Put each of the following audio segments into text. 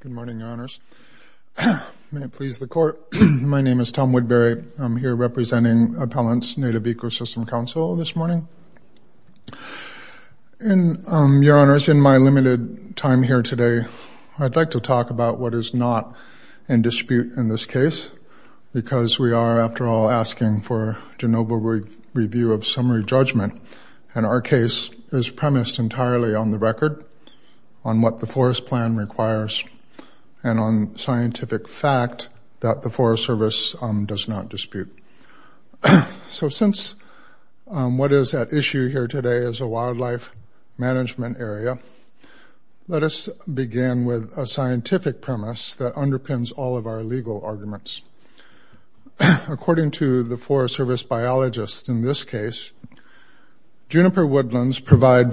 Good morning, Your Honors. May it please the court, my name is Tom Woodbury. I'm here representing Appellants Native Ecosystem Council this morning. And Your Honors, in my limited time here today, I'd like to talk about what is not in dispute in this case, because we are, after all, asking for Genova review of summary judgment. And our case is premised entirely on the record, on what the forest plan requires, and on scientific fact that the Forest Service does not dispute. So since what is at issue here today is a wildlife management area, let us begin with a scientific premise that underpins all of our legal arguments. According to the Forest Service biologists in this case, Juniper Juniper woodlands provide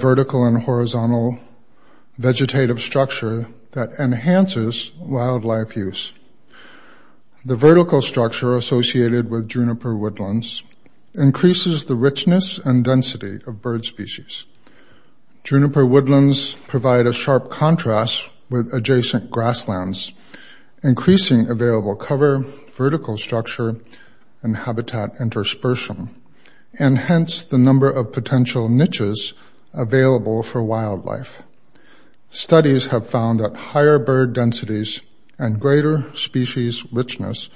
a sharp contrast with adjacent grasslands, increasing available cover, vertical structure, and habitat interspersion, and hence the number of potential niches available for wildlife. Higher bird densities and greater species richness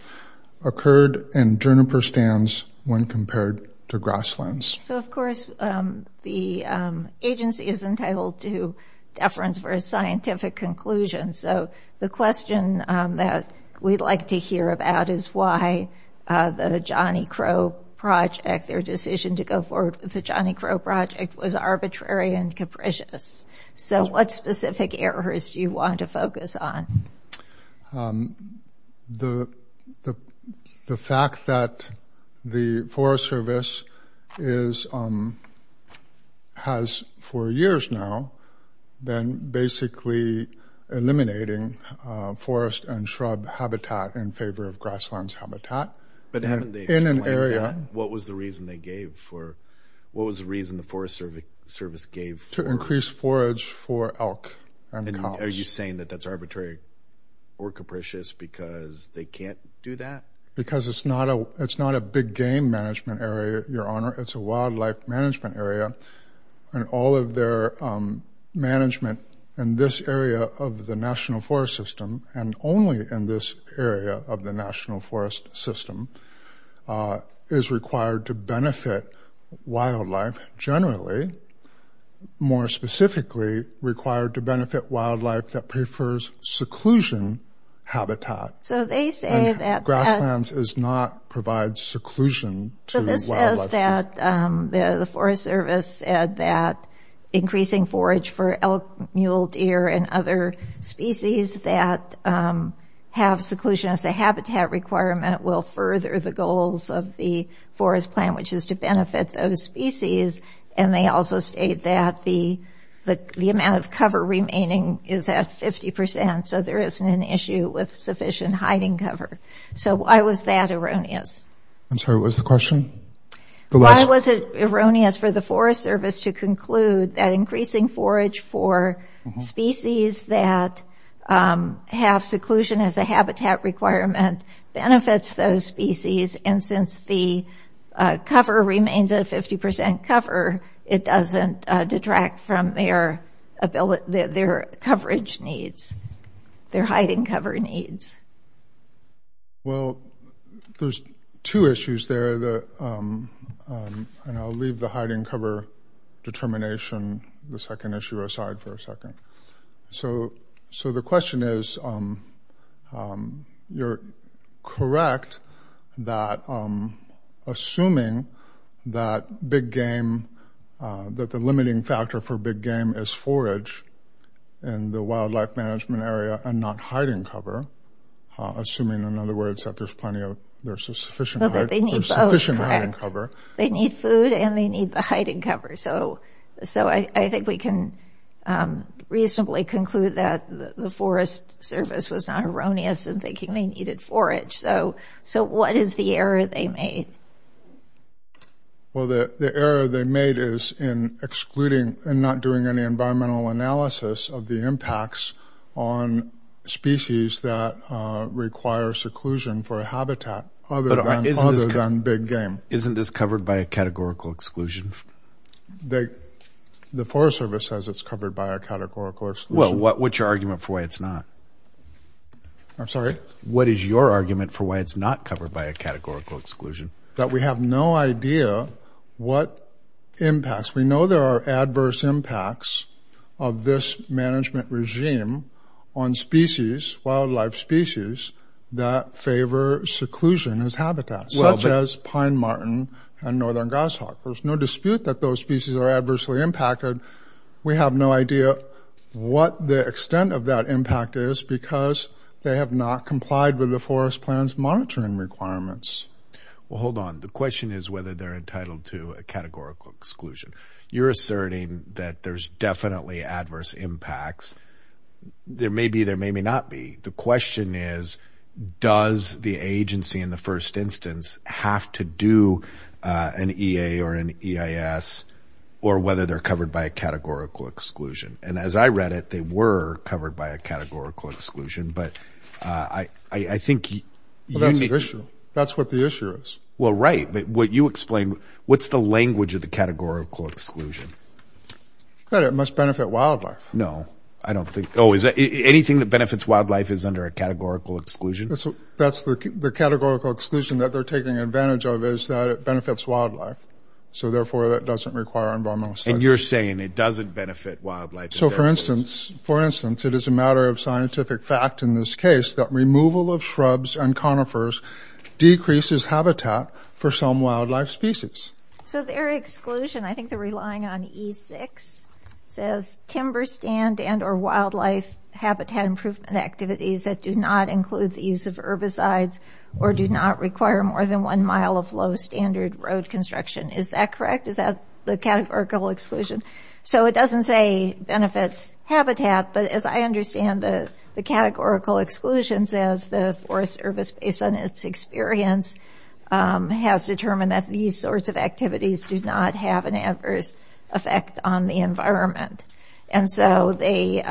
occurred in Juniper stands when compared to grasslands. So, of course, the agency is entitled to deference for a scientific conclusion. So the question that we'd like to hear about is why the Johnny Crow Project, their decision to go forward with the Johnny Crow Project, was arbitrary and capricious. So what specific errors do you want to focus on? The fact that the Forest Service is – has, for years now, been basically eliminating forest and shrub habitat in favor of grasslands habitat in an area. But haven't they explained that? What was the reason they gave for – what was the reason the Forest Service gave for… To increase forage for elk. And are you saying that that's arbitrary or capricious because they can't do that? Because it's not a – it's not a big game management area, Your Honor. It's a wildlife management area. And all of their management in this area of the national forest system, and only in this area of the national forest system, is required to benefit wildlife. Generally, more specifically, required to benefit wildlife that prefers seclusion habitat. So they say that… Grasslands does not provide seclusion to wildlife. So this says that the Forest Service said that increasing forage for elk, mule, deer, and other species that have seclusion as a habitat requirement will further the goals of the forest plan, which is to benefit those species. And they also state that the amount of cover remaining is at 50%. So there isn't an issue with sufficient hiding cover. So why was that erroneous? I'm sorry, what was the question? The last… Why was it erroneous for the Forest Service to conclude that increasing forage for species that have seclusion as a habitat requirement benefits those species, and since the cover remains at 50% cover, it doesn't detract from their coverage needs, their hiding cover needs? – Well, there's two issues there. And I'll leave the hiding cover determination, the second issue, aside for a second. So the question is, you're correct that assuming that big game – that the limiting factor for big game is forage in the wildlife management area and not hiding cover – assuming, in other words, that there's plenty of – there's a sufficient hiding cover. – They need food, and they need the hiding cover. So I think we can reasonably conclude that the Forest Service was not erroneous in thinking they needed forage. So what is the error they made? – Well, the error they made is in excluding – in not doing any environmental analysis of the impacts on species that require seclusion for a habitat other than big game. – Isn't this covered by a categorical exclusion? – The Forest Service says it's covered by a categorical exclusion. – Well, what's your argument for why it's not? – I'm sorry? – What is your argument for why it's not covered by a categorical exclusion? – That we have no idea what impacts – we know there are adverse impacts of this management regime on species – wildlife species that favor seclusion as habitats, such as pine marten and northern goshawk. There's no dispute that those species are adversely impacted. We have no idea what the extent of that impact is because they have not complied with the Forest Plan's monitoring requirements. – Well, hold on. The question is whether they're entitled to a categorical exclusion. You're asserting that there's definitely adverse impacts. There may be. There may not be. The question is, does the agency in the first instance have to do an EA or an EIS, or whether they're covered by a categorical exclusion? And as I read it, they were covered by a categorical exclusion. But I think you need to –– Well, that's the issue. That's what the issue is. – Well, right. But what you explained – what's the language of the categorical exclusion? – That it must benefit wildlife. – No. I don't think – oh, is that – anything that benefits wildlife is under a categorical exclusion? – That's the categorical exclusion that they're taking advantage of is that it benefits wildlife. So, therefore, that doesn't require environmental safety. – And you're saying it doesn't benefit wildlife. – So, for instance, it is a matter of scientific fact in this case that removal of shrubs and conifers decreases habitat for some wildlife species. – So their exclusion – I think they're relying on E6 – says timber stand and or wildlife habitat improvement activities that do not include the use of herbicides or do not require more than one mile of low-standard road construction. Is that correct? Is that the categorical exclusion? So it doesn't say benefits habitat. But as I understand, the categorical exclusion says the Forest Service, based on its experience, has determined that these sorts of activities do not have an adverse effect on the environment. And so they've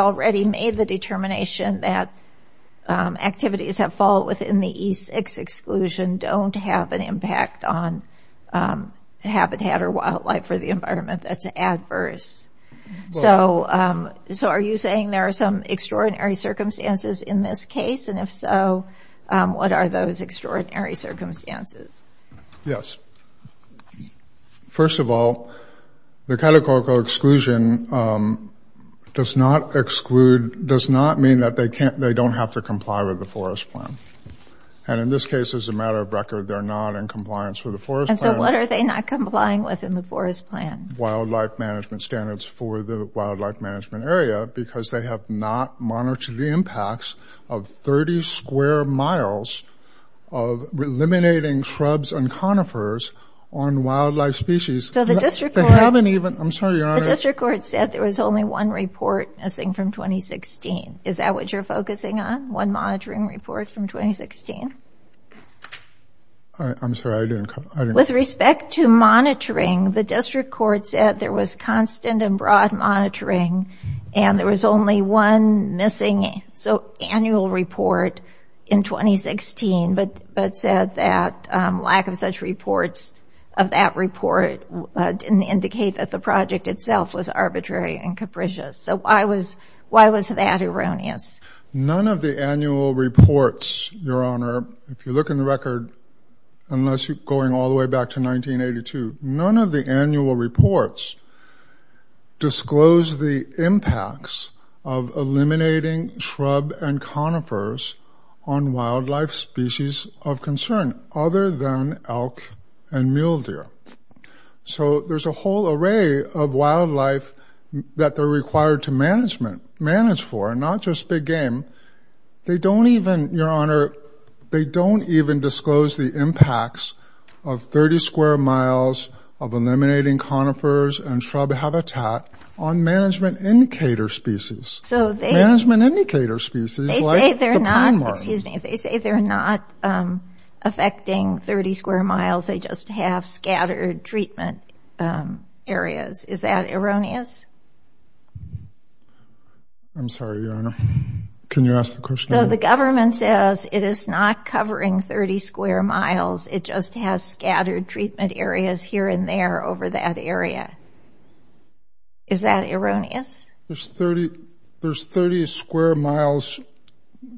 already made the determination that activities that fall within the E6 exclusion don't have an impact on habitat or wildlife for the environment. That's adverse. So are you saying there are some extraordinary circumstances in this case? And if so, what are those extraordinary circumstances? – Yes. First of all, the categorical exclusion does not exclude – does not mean that they don't have to comply with the forest plan. And in this case, as a matter of record, they're not in compliance with the forest plan. – And so what are they not complying with in the forest plan? – Wildlife management standards for the wildlife management area because they have not monitored the impacts of 30 square miles of eliminating shrubs and conifers on wildlife species. – So the district court –– They haven't even – I'm sorry, Your Honor. – The district court said there was only one report missing from 2016. Is that what you're focusing on? One monitoring report from 2016? – I'm sorry. I didn't –– With respect to monitoring, the district court said there was constant and broad monitoring, and there was only one missing annual report in 2016, but said that lack of such reports of that report didn't indicate that the project itself was arbitrary and capricious. So why was that erroneous? – None of the annual reports, Your Honor, if you look in the record, unless you're going all the way back to 1982, none of the annual reports disclose the impacts of eliminating shrub and conifers on wildlife species of concern other than elk and mule deer. So there's a whole array of wildlife that they're required to manage for, not just big game. They don't even – Your Honor, they don't even disclose the impacts of 30 square miles of eliminating conifers and shrub habitat on management indicator species. – So they –– Management indicator species, like the pond marten. – They say they're not – excuse me. They say they're not affecting 30 square miles. They just have scattered treatment areas. Is that erroneous? – I'm sorry, Your Honor. Can you ask the question again? – The government says it is not covering 30 square miles. It just has scattered treatment areas here and there over that area. Is that erroneous? – There's 30 square miles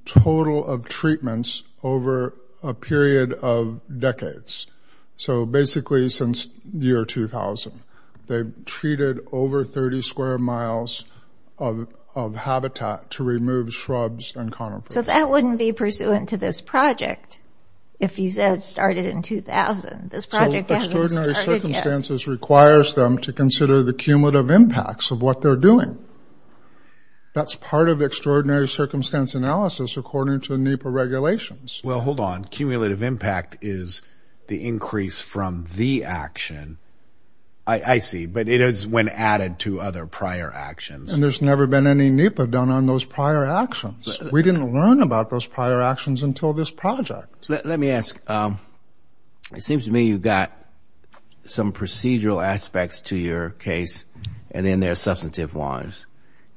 total of treatments over a period of decades. So basically since the year 2000. They've treated over 30 square miles of habitat to remove shrubs and conifers. – So that wouldn't be pursuant to this project if you said it started in 2000. This project hasn't started yet. – So extraordinary circumstances requires them to consider the cumulative impacts of what they're doing. That's part of extraordinary circumstance analysis according to NEPA regulations. – Well, hold on. Cumulative impact is the increase from the action. – I see. But it is when added to other prior actions. – And there's never been any NEPA done on those prior actions. We didn't learn about those prior actions until this project. – Let me ask. It seems to me you've got some procedural aspects to your case and then there are substantive ones.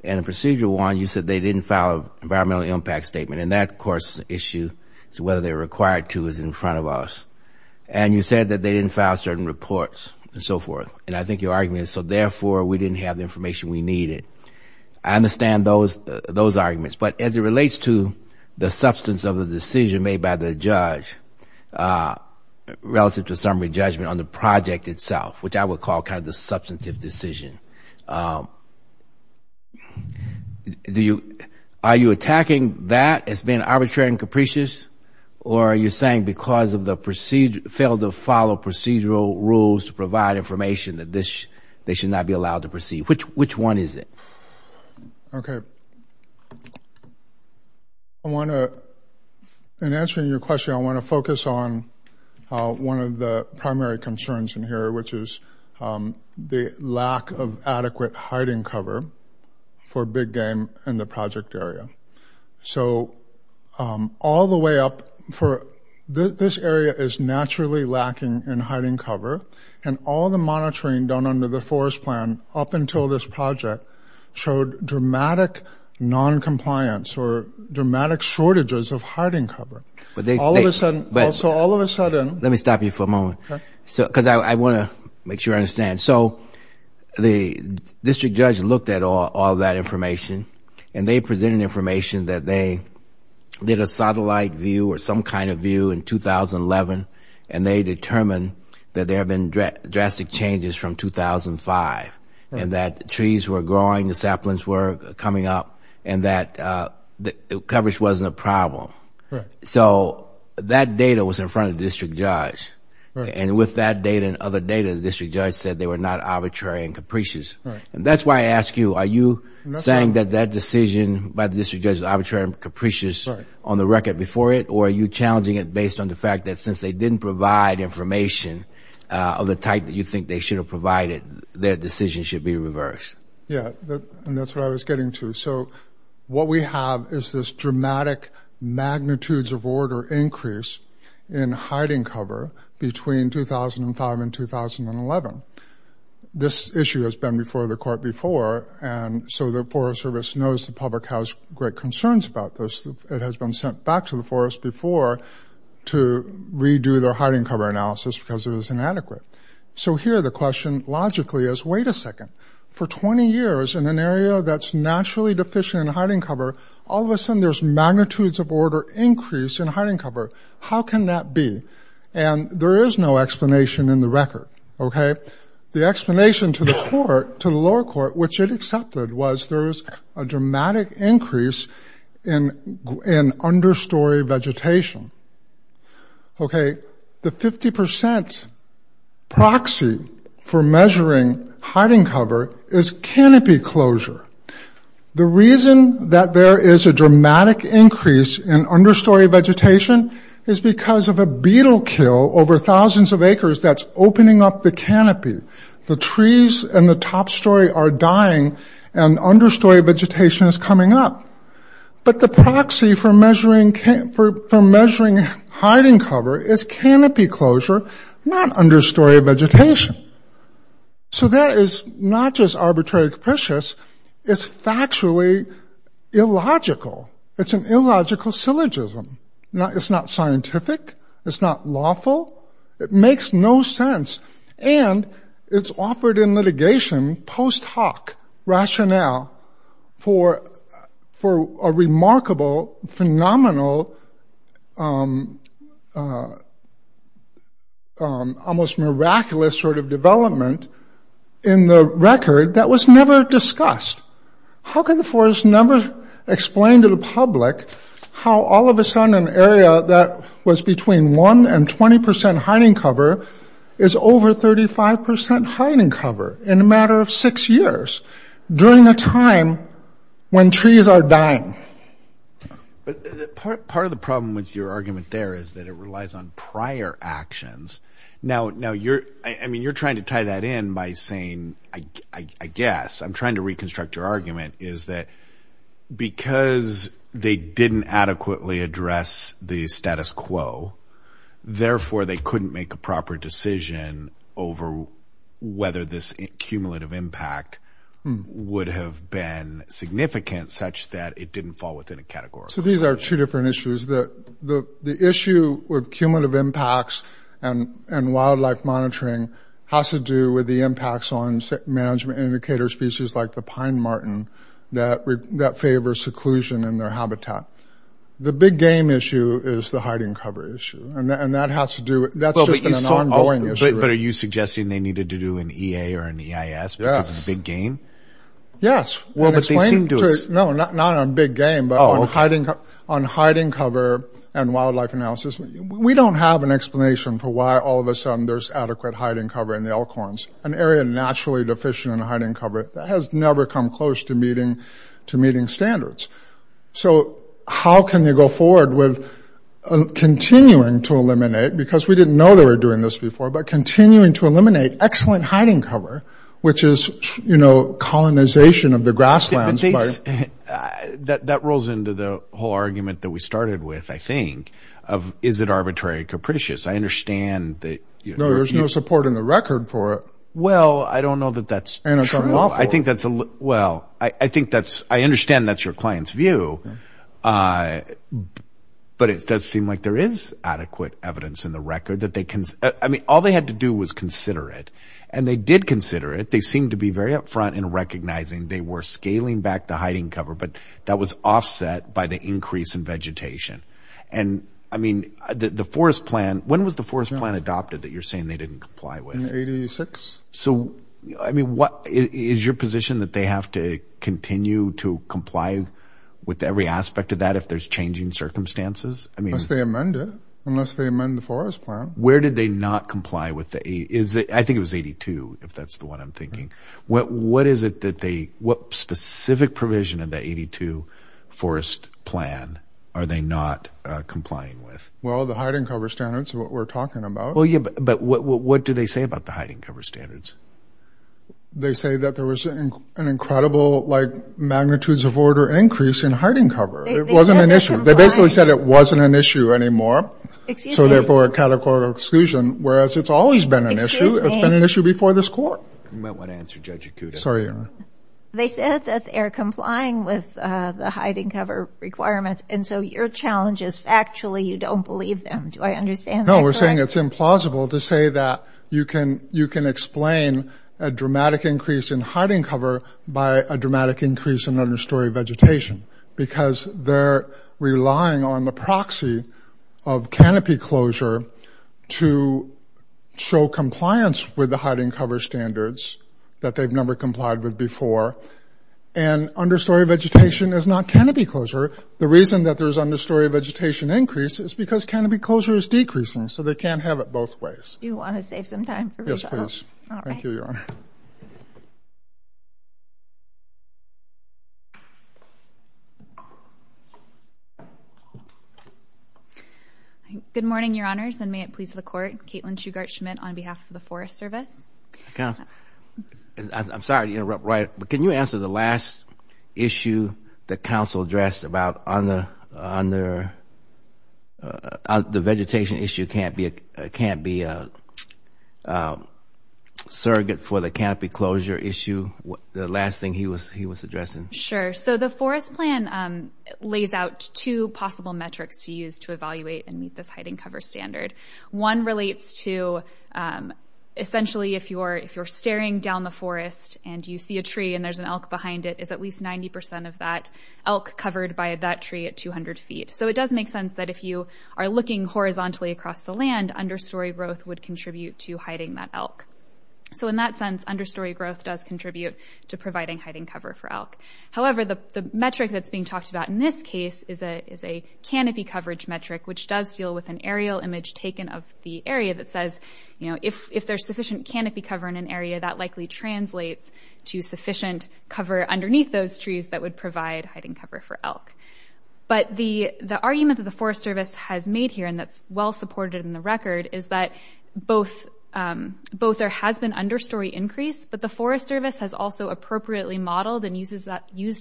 And the procedural one, you said they didn't file an environmental impact statement. And that, of course, is an issue. So whether they're required to is in front of us. And you said that they didn't file certain reports and so forth. And I think your argument is, so therefore, we didn't have the information we needed. I understand those arguments. But as it relates to the substance of the decision made by the judge relative to summary judgment on the project itself, which I would call kind of the substantive decision, are you attacking that as being arbitrary and capricious? Or are you saying because of the procedure, failed to follow procedural rules to provide information that this, they should not be allowed to proceed? Which one is it? – Okay. I want to, in answering your question, I want to focus on one of the primary concerns in here, which is the lack of adequate hiding cover for big game in the project area. So all the way up for, this area is naturally lacking in hiding cover. And all the monitoring done under the forest plan up until this project showed dramatic noncompliance or dramatic shortages of hiding cover. But all of a sudden, also all of a sudden. – Let me stop you for a moment. Because I want to make sure I understand. So the district judge looked at all that information. And they presented information that they did a satellite view or some kind of view in 2011. And they determined that there have been drastic changes from 2005. And that trees were growing, the saplings were coming up. And that the coverage wasn't a problem. So that data was in front of the district judge. And with that data and other data, the district judge said they were not arbitrary and capricious. And that's why I ask you, are you saying that that decision by the district judge is arbitrary and capricious on the record before it? Or are you challenging it based on the fact that since they didn't provide information of the type that you think they should have provided, their decision should be reversed? – Yeah, and that's what I was getting to. So what we have is this dramatic magnitudes of order increase in hiding cover between 2005 and 2011. This issue has been before the court before. And so the Forest Service knows the public has great concerns about this. It has been sent back to the forest before to redo their hiding cover analysis because it was inadequate. So here the question logically is, wait a second. For 20 years in an area that's naturally deficient in hiding cover, all of a sudden there's magnitudes of order increase in hiding cover. How can that be? And there is no explanation in the record, okay? The explanation to the court, to the lower court, which it accepted, was there was a dramatic increase in understory vegetation. Okay, the 50% proxy for measuring hiding cover is canopy closure. The reason that there is a dramatic increase in understory vegetation is because of a beetle kill over thousands of acres that's opening up the canopy. The trees in the top story are dying and understory vegetation is coming up. But the proxy for measuring hiding cover is canopy closure, not understory vegetation. So that is not just arbitrary capricious, it's factually illogical. It's an illogical syllogism. It's not scientific. It's not lawful. It makes no sense. And it's offered in litigation, post hoc rationale, for a remarkable, phenomenal, almost miraculous sort of development in the record that was never discussed. How can the forest never explain to the public how all of a sudden an area that was between 1% and 20% hiding cover is over 35% hiding cover in a matter of six years, during a time when trees are dying? Part of the problem with your argument there is that it relies on prior actions. Now, I mean, you're trying to tie that in by saying, I guess, I'm trying to reconstruct your argument, is that because they didn't adequately address the status quo, therefore they couldn't make a proper decision over whether this cumulative impact would have been significant such that it didn't fall within a category. So these are two different issues. The issue with cumulative impacts and wildlife monitoring has to do with the impacts on management indicator species like the pine martin that favor seclusion in their habitat. The big game issue is the hiding cover issue. And that has to do, that's just an ongoing issue. But are you suggesting they needed to do an EA or an EIS because it's a big game? Yes. No, not on big game, but on hiding cover and wildlife analysis. We don't have an explanation for why all of a sudden there's adequate hiding cover in the elkhorns. An area naturally deficient in hiding cover that has never come close to meeting standards. So how can they go forward with continuing to eliminate, because we didn't know they were doing this before, but continuing to eliminate excellent hiding cover, which is, you know, colonization of the grasslands. But that rolls into the whole argument that we started with, I think, of, is it arbitrary or capricious? I understand that... No, there's no support in the record for it. Well, I don't know that that's true. And it's unlawful. I think that's a... Well, I think that's... I understand that's your client's view. But it does seem like there is adequate evidence in the record that they can... I mean, all they had to do was consider it. And they did consider it. They seemed to be very upfront in recognizing they were scaling back the hiding cover, but that was offset by the increase in vegetation. And I mean, the forest plan... When was the forest plan adopted that you're saying they didn't comply with? In 86. So, I mean, what... Is your position that they have to continue to comply with every aspect of that if there's changing circumstances? Unless they amend it. Unless they amend the forest plan. Where did they not comply with the... Is it... I think it was 82, if that's the one I'm thinking. What is it that they... What specific provision of the 82 forest plan are they not complying with? Well, the hiding cover standards are what we're talking about. But what do they say about the hiding cover standards? They say that there was an incredible, like, magnitudes of order increase in hiding cover. It wasn't an issue. They basically said it wasn't an issue anymore. So, therefore, a categorical exclusion. Whereas it's always been an issue. It's been an issue before this court. You might want to answer Judge Akuta. Sorry, Your Honor. They said that they're complying with the hiding cover requirements. And so your challenge is factually you don't believe them. Do I understand that correctly? No, we're saying it's implausible to say that you can explain a dramatic increase in hiding cover by a dramatic increase in understory vegetation. Because they're relying on the proxy of canopy closure to show compliance with the hiding cover standards that they've never complied with before. And understory vegetation is not canopy closure. The reason that there's understory vegetation increase is because canopy closure is decreasing. So they can't have it both ways. Do you want to save some time for Rachel? Yes, please. All right. Thank you, Your Honor. Good morning, Your Honors. And may it please the Court. Kaitlin Shugart-Schmidt on behalf of the Forest Service. I'm sorry to interrupt, Roy. But can you answer the last issue the counsel addressed about the vegetation issue can't be a surrogate for the canopy closure issue? The last thing he was addressing. Sure. So the Forest Plan lays out two possible metrics to use to evaluate and meet this hiding cover standard. One relates to essentially if you're staring down the forest and you see a tree and there's an elk behind it, is at least 90% of that elk covered by that tree at 200 feet. So it does make sense that if you are looking horizontally across the land, understory growth would contribute to hiding that elk. So in that sense, understory growth does contribute to providing hiding cover for elk. However, the metric that's being talked about in this case is a canopy coverage metric, which does deal with an aerial image taken of the area that says, you know, if there's sufficient canopy cover in an area, that likely translates to sufficient cover underneath those trees that would provide hiding cover for elk. But the argument that the Forest Service has made here, and that's well supported in the record, is that both there has been understory increase, but the Forest Service has also appropriately modeled and used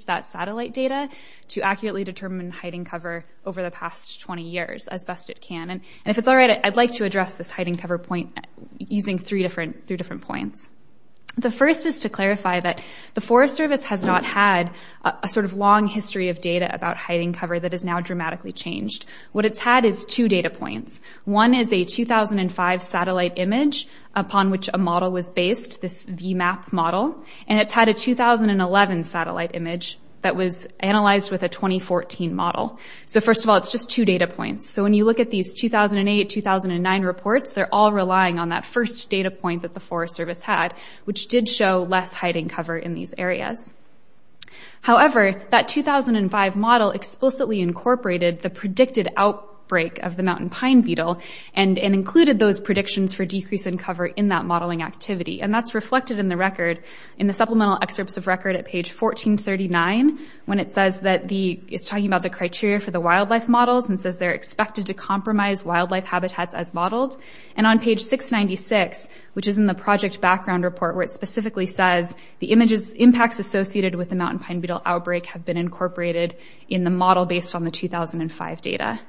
that satellite data to accurately determine hiding cover over the past 20 years as best it can. And if it's all right, I'd like to address this hiding cover point using three different points. The first is to clarify that the Forest Service has not had a sort of long history of data about hiding cover that has now dramatically changed. What it's had is two data points. One is a 2005 satellite image upon which a model was based, this VMAP model, and it's had a 2011 satellite image that was analyzed with a 2014 model. So first of all, it's just two data points. So when you look at these 2008, 2009 reports, they're all relying on that first data point that the Forest Service had, which did show less hiding cover in these areas. However, that 2005 model explicitly incorporated the predicted outbreak of the mountain pine beetle and included those predictions for decrease in cover in that modeling activity. And that's reflected in the record, in the supplemental excerpts of record at page 1439, when it says that the, it's talking about the criteria for the wildlife models and says they're expected to compromise wildlife habitats as modeled. And on page 696, which is in the project background report, where it specifically says the images, impacts associated with the mountain pine beetle outbreak have been incorporated in the model based on the 2005 data.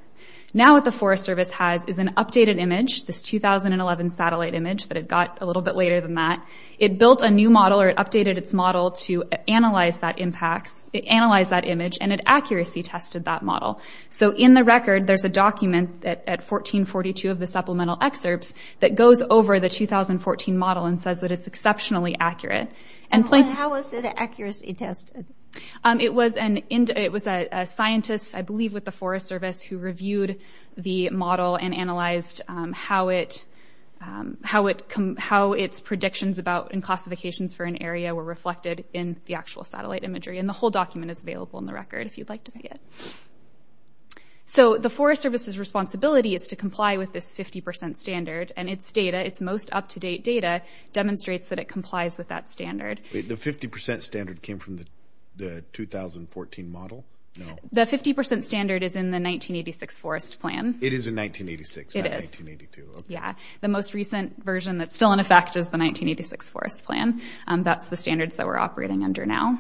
Now what the Forest Service has is an updated image, this 2011 satellite image that it got a little bit later than that. It built a new model or it updated its model to analyze that impacts, analyze that image and it accuracy tested that model. So in the record, there's a document at 1442 of the supplemental excerpts that goes over the 2014 model and says that it's exceptionally accurate. And how was it accuracy tested? It was a scientist, I believe with the Forest Service who reviewed the model and analyzed how its predictions about and classifications for an area were reflected in the actual satellite imagery. And the whole document is available in the record So the Forest Service's responsibility is to comply with this 50% standard and its data, its most up-to-date data demonstrates that it complies with that standard. The 50% standard came from the 2014 model? No. The 50% standard is in the 1986 forest plan. It is in 1986, not 1982. Yeah. The most recent version that's still in effect is the 1986 forest plan. That's the standards that we're operating under now.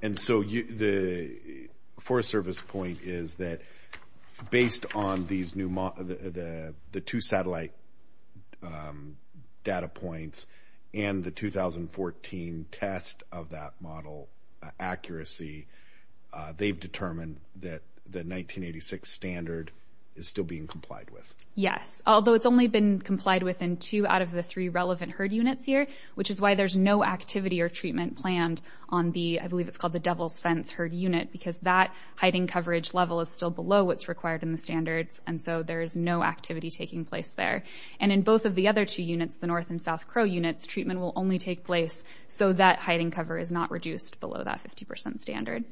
And so the Forest Service point is that based on the two satellite data points and the 2014 test of that model accuracy, they've determined that the 1986 standard is still being complied with. Yes, although it's only been complied within two out of the three relevant herd units here, which is why there's no activity or treatment planned on the, I believe it's called the Devil's Fence herd unit, because that hiding coverage level is still below what's required in the standards. And so there's no activity taking place there. And in both of the other two units, the North and South Crow units, treatment will only take place so that hiding cover is not reduced below that 50% standard.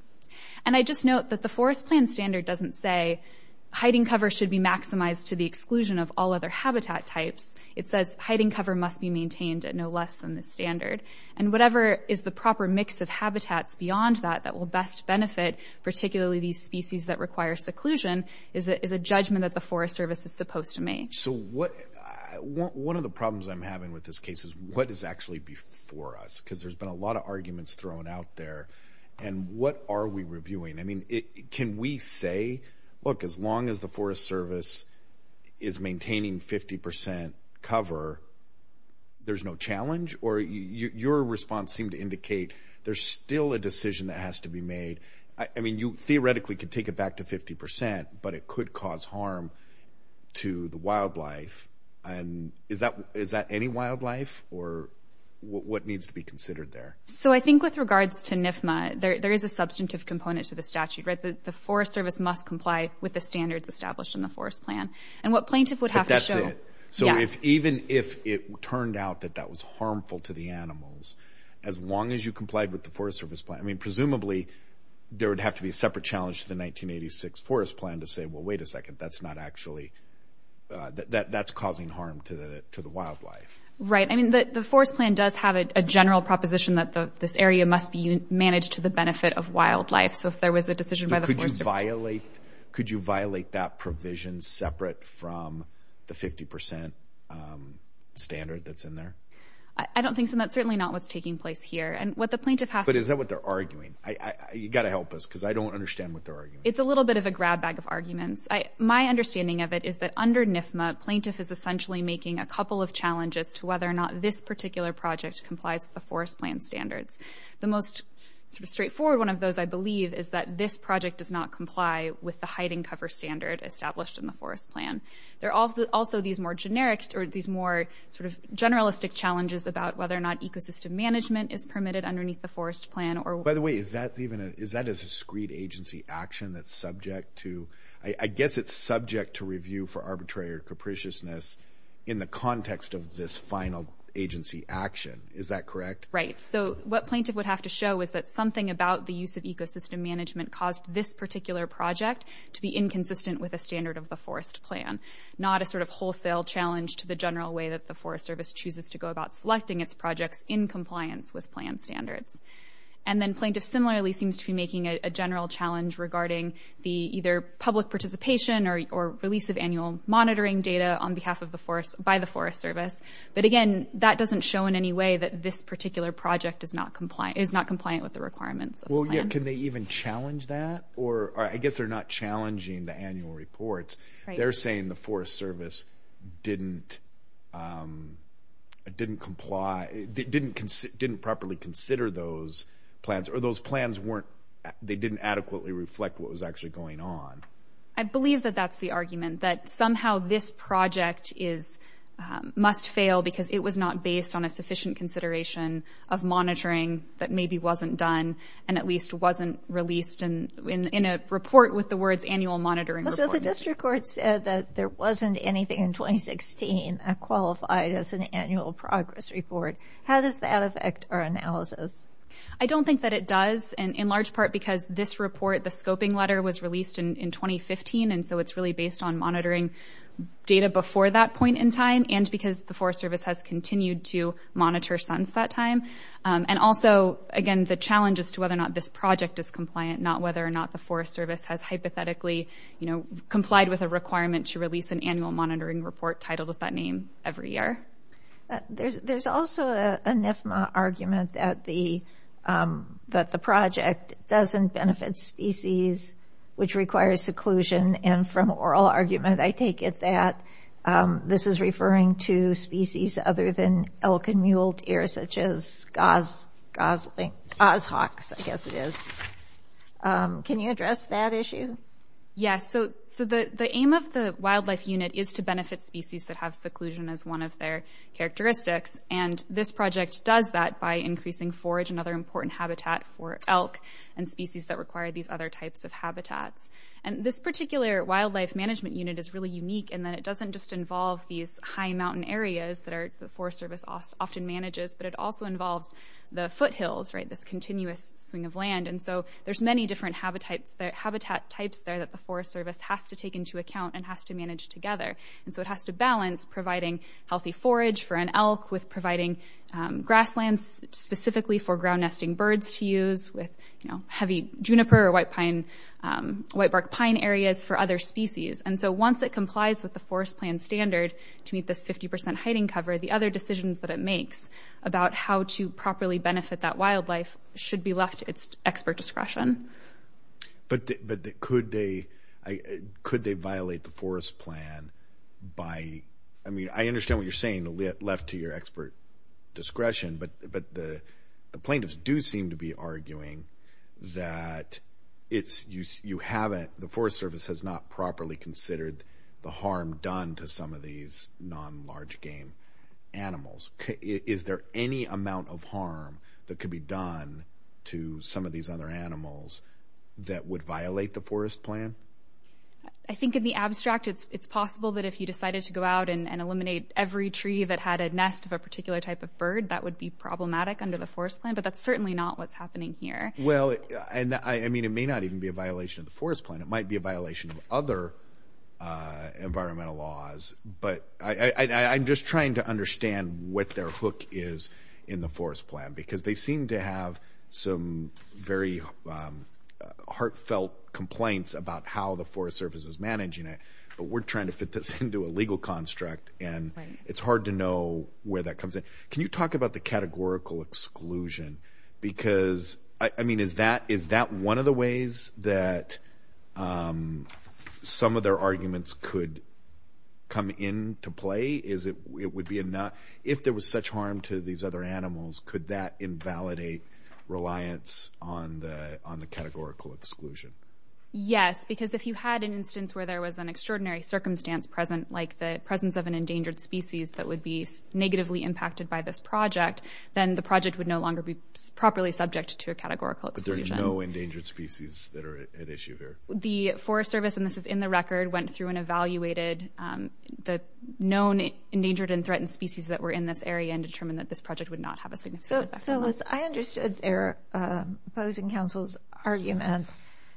And I just note that the forest plan standard doesn't say hiding cover should be maximized to the exclusion of all other habitat types. It says hiding cover must be maintained at no less than the standard. And whatever is the proper mix of habitats beyond that that will best benefit, particularly these species that require seclusion, is a judgment that the Forest Service is supposed to make. So one of the problems I'm having with this case is what is actually before us? Because there's been a lot of arguments thrown out there. And what are we reviewing? I mean, can we say, look, as long as the Forest Service is maintaining 50% cover, there's no challenge? Or your response seemed to indicate there's still a decision that has to be made. I mean, you theoretically could take it back to 50%, but it could cause harm to the wildlife. And is that any wildlife? Or what needs to be considered there? So I think with regards to NFMA, there is a substantive component to the statute, right? The Forest Service must comply with the standards established in the forest plan. And what plaintiff would have to show- But that's it. So even if it turned out that that was harmful to the animals, as long as you complied with the Forest Service plan, presumably there would have to be a separate challenge to the 1986 forest plan to say, well, wait a second. That's not actually... That's causing harm to the wildlife. Right. I mean, the forest plan does have a general proposition that this area must be managed to the benefit of wildlife. So if there was a decision by the Forest Service- Could you violate that provision separate from the 50% standard that's in there? I don't think so. And that's certainly not what's taking place here. And what the plaintiff has to- But is that what they're arguing? You got to help us, because I don't understand what they're arguing. It's a little bit of a grab bag of arguments. My understanding of it is that under NIFMA, plaintiff is essentially making a couple of challenges to whether or not this particular project complies with the forest plan standards. The most sort of straightforward one of those, I believe, is that this project does not comply with the hiding cover standard established in the forest plan. There are also these more generic or these more sort of generalistic challenges about whether or not ecosystem management is permitted underneath the forest plan or- By the way, is that even a- Is that a discreet agency action that's subject to- I guess it's subject to review for arbitrary or capriciousness in the context of this final agency action. Is that correct? Right. So what plaintiff would have to show is that something about the use of ecosystem management caused this particular project to be inconsistent with a standard of the forest plan, not a sort of wholesale challenge to the general way that the Forest Service chooses to go about selecting its projects in compliance with plan standards. And then plaintiff, similarly, seems to be making a general challenge regarding the either public participation or release of annual monitoring data on behalf of the forest by the Forest Service. But again, that doesn't show in any way that this particular project is not compliant with the requirements of the plan. Can they even challenge that? Or I guess they're not challenging the annual reports. They're saying the Forest Service didn't comply, didn't properly consider those plans, or those plans weren't, they didn't adequately reflect what was actually going on. I believe that that's the argument, that somehow this project must fail because it was not based on a sufficient consideration of monitoring that maybe wasn't done and at least wasn't released in a report with the words annual monitoring report. So the district court said that there wasn't anything in 2016 qualified as an annual progress report. How does that affect our analysis? I don't think that it does, and in large part because this report, the scoping letter was released in 2015. And so it's really based on monitoring data before that point in time and because the Forest Service has continued to monitor SUNS that time. And also, again, the challenge as to whether or not this project is compliant, not whether or not the Forest Service has hypothetically complied with a requirement to release an annual monitoring report titled with that name every year. There's also an NFMA argument that the project doesn't benefit species, which requires seclusion. And from oral argument, I take it that this is referring to species other than elk and mule deer, such as goshawks, I guess it is. Can you address that issue? Yes, so the aim of the wildlife unit is to benefit species that have seclusion as one of their characteristics. And this project does that by increasing forage and other important habitat for elk and species that require these other types of habitats. And this particular wildlife management unit is really unique in that it doesn't just involve these high mountain areas that the Forest Service often manages, but it also involves the foothills, right, this continuous swing of land. And so there's many different habitat types there that the Forest Service has to take into account and has to manage together. And so it has to balance providing healthy forage for an elk with providing grasslands specifically for ground nesting birds to use with heavy juniper or whitebark pine areas for other species. And so once it complies with the forest plan standard to meet this 50% hiding cover, the other decisions that it makes about how to properly benefit that wildlife should be left to its expert discretion. But could they violate the forest plan by, I mean, I understand what you're saying, left to your expert discretion, but the plaintiffs do seem to be arguing that the Forest Service has not properly considered the harm done to some of these non-large game animals. Is there any amount of harm that could be done to some of these other animals that would violate the forest plan? I think in the abstract, it's possible that if you decided to go out and eliminate every tree that had a nest of a particular type of bird, that would be problematic under the forest plan, but that's certainly not what's happening here. Well, I mean, it may not even be a violation of the forest plan. It might be a violation of other environmental laws, but I'm just trying to understand what their hook is in the forest plan, because they seem to have some very heartfelt complaints about how the Forest Service is managing it, but we're trying to fit this into a legal construct, and it's hard to know where that comes in. Can you talk about the categorical exclusion? Because, I mean, is that one of the ways that some of their arguments could come into play? If there was such harm to these other animals, could that invalidate reliance on the categorical exclusion? Yes, because if you had an instance where there was an extraordinary circumstance present, like the presence of an endangered species that would be negatively impacted by this project, then the project would no longer be properly subject to a categorical exclusion. But there's no endangered species that are at issue here? The Forest Service, and this is in the record, went through and evaluated the known endangered and threatened species that were in this area and determined that this project would not have a significant impact on them. So I understood their opposing counsel's argument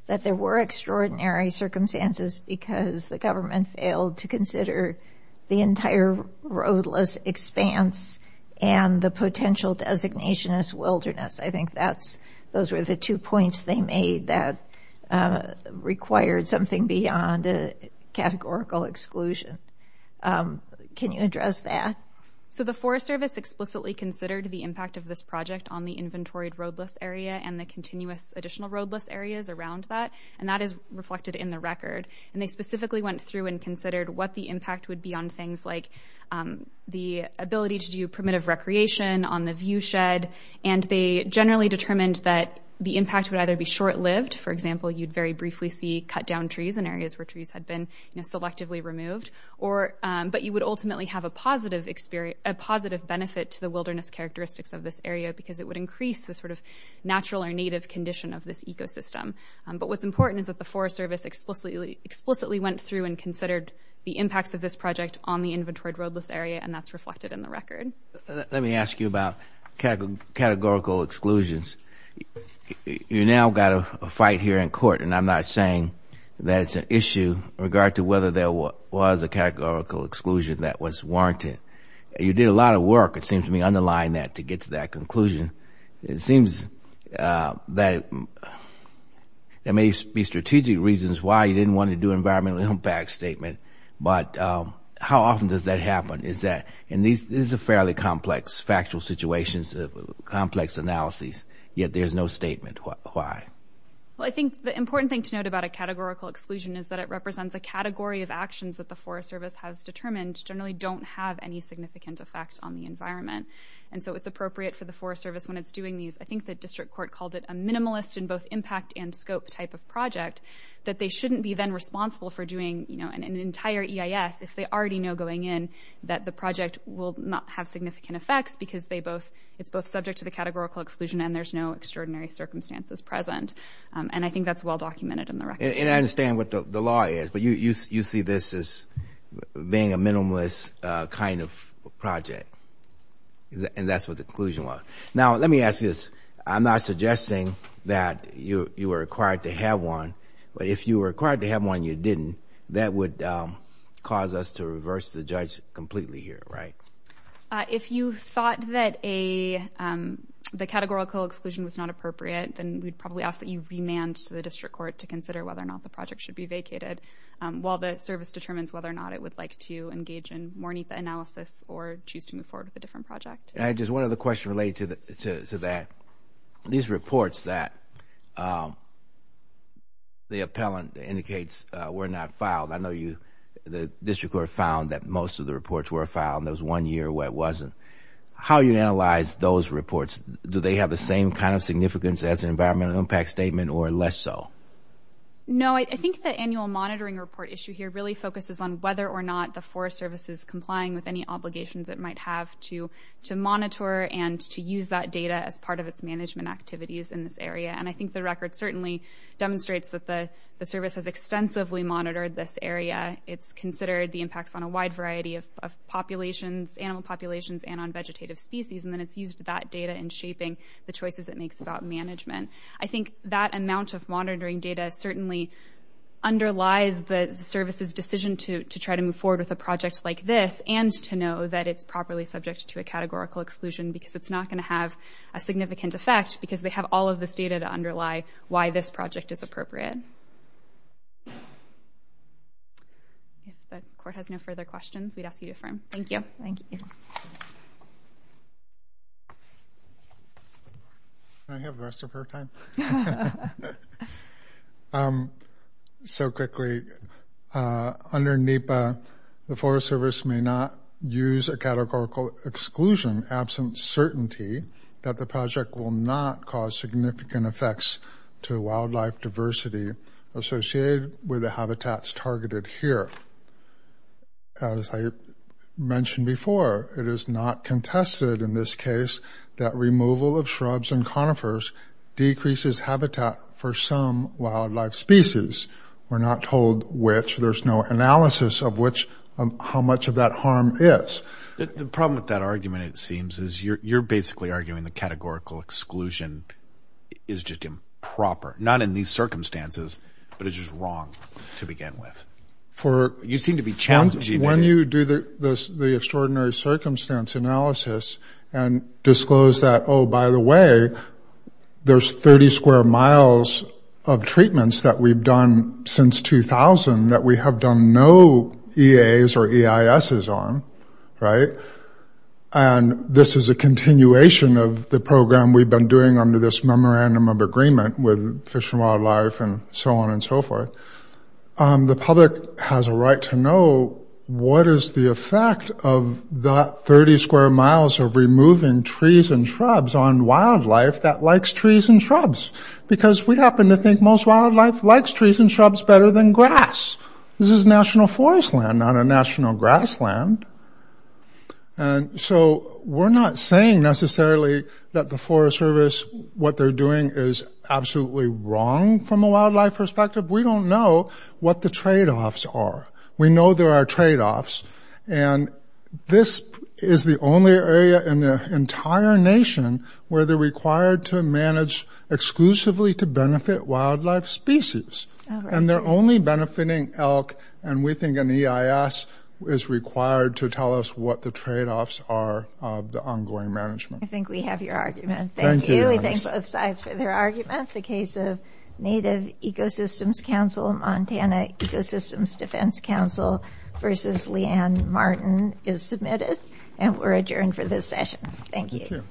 that there were extraordinary circumstances because the government failed to consider the entire roadless expanse and the potential designation as wilderness. I think those were the two points they made that required something beyond a categorical exclusion. Can you address that? So the Forest Service explicitly considered the impact of this project on the inventoried roadless area and the continuous additional roadless areas around that, and that is reflected in the record. And they specifically went through and considered what the impact would be on things like the ability to do primitive recreation on the viewshed. And they generally determined that the impact would either be short-lived, for example, you'd very briefly see cut down trees in areas where trees had been selectively removed, but you would ultimately have a positive benefit to the wilderness characteristics of this area because it would increase the sort of natural or native condition of this ecosystem. But what's important is that the Forest Service explicitly went through and considered the impacts of this project on the inventoried roadless area, and that's reflected in the record. Let me ask you about categorical exclusions. and I'm not saying that it's an issue in regard to whether there was a categorical exclusion that was warranted. You did a lot of work, it seems to me, underlying that to get to that conclusion. It seems that there may be strategic reasons why you didn't want to do an environmental impact statement, but how often does that happen? Is that, and this is a fairly complex, factual situation, complex analysis, yet there's no statement, why? Well, I think the important thing to note about a categorical exclusion is that it represents a category of actions that the Forest Service has determined generally don't have any significant effect on the environment. And so it's appropriate for the Forest Service, when it's doing these, I think the district court called it a minimalist in both impact and scope type of project, that they shouldn't be then responsible for doing an entire EIS if they already know going in that the project will not have significant effects because it's both subject to the categorical exclusion and there's no extraordinary circumstances present. And I think that's well-documented in the record. And I understand what the law is, but you see this as being a minimalist kind of project. And that's what the conclusion was. Now, let me ask this. I'm not suggesting that you were required to have one, but if you were required to have one and you didn't, that would cause us to reverse the judge completely here, right? If you thought that the categorical exclusion was not appropriate, then we'd probably ask that you remand to the district court to consider whether or not the project should be vacated while the service determines whether or not it would like to engage in more NEPA analysis or choose to move forward with a different project. And just one other question related to that. These reports that the appellant indicates were not filed, I know the district court found that most of the reports were filed and there was one year where it wasn't. How you analyze those reports? Do they have the same kind of significance as an environmental impact statement or less so? No, I think the annual monitoring report issue here really focuses on whether or not the forest service is complying with any obligations it might have to monitor and to use that data as part of its management activities in this area. And I think the record certainly demonstrates that the service has extensively monitored this area. It's considered the impacts on a wide variety of populations, animal populations and on vegetative species. And then it's used that data in shaping the choices it makes about management. I think that amount of monitoring data certainly underlies the service's decision to try to move forward with a project like this and to know that it's properly subject to a categorical exclusion because it's not going to have a significant effect because they have all of this data to underlie why this project is appropriate. If the court has no further questions, we'd ask you to affirm. Thank you. Thank you. Thank you. Can I have the rest of her time? So quickly, under NEPA, the forest service may not use a categorical exclusion absent certainty that the project will not cause significant effects to wildlife diversity associated with the habitats targeted here. As I mentioned before, it is not contested in this case that removal of shrubs and conifers decreases habitat for some wildlife species. We're not told which, there's no analysis of which, how much of that harm is. The problem with that argument, it seems, is you're basically arguing the categorical exclusion is just improper, not in these circumstances, but it's just wrong to begin with. You seem to be challenging it. When you do the extraordinary circumstance analysis and disclose that, oh, by the way, there's 30 square miles of treatments that we've done since 2000 that we have done no EAs or EISs on, right? And this is a continuation of the program we've been doing under this memorandum of agreement with Fish and Wildlife and so on and so forth. The public has a right to know what is the effect of that 30 square miles of removing trees and shrubs on wildlife that likes trees and shrubs? Because we happen to think most wildlife likes trees and shrubs better than grass. This is national forest land, not a national grassland. And so we're not saying necessarily that the Forest Service, what they're doing is absolutely wrong from a wildlife perspective. We don't know what the trade-offs are. We know there are trade-offs and this is the only area in the entire nation where they're required to manage exclusively to benefit wildlife species. And they're only benefiting elk and we think an EIS is required to tell us what the trade-offs are of the ongoing management. I think we have your argument. Thank you. We thank both sides for their argument. The case of Native Ecosystems Council, Montana Ecosystems Defense Council versus Leanne Martin is submitted and we're adjourned for this session. Thank you.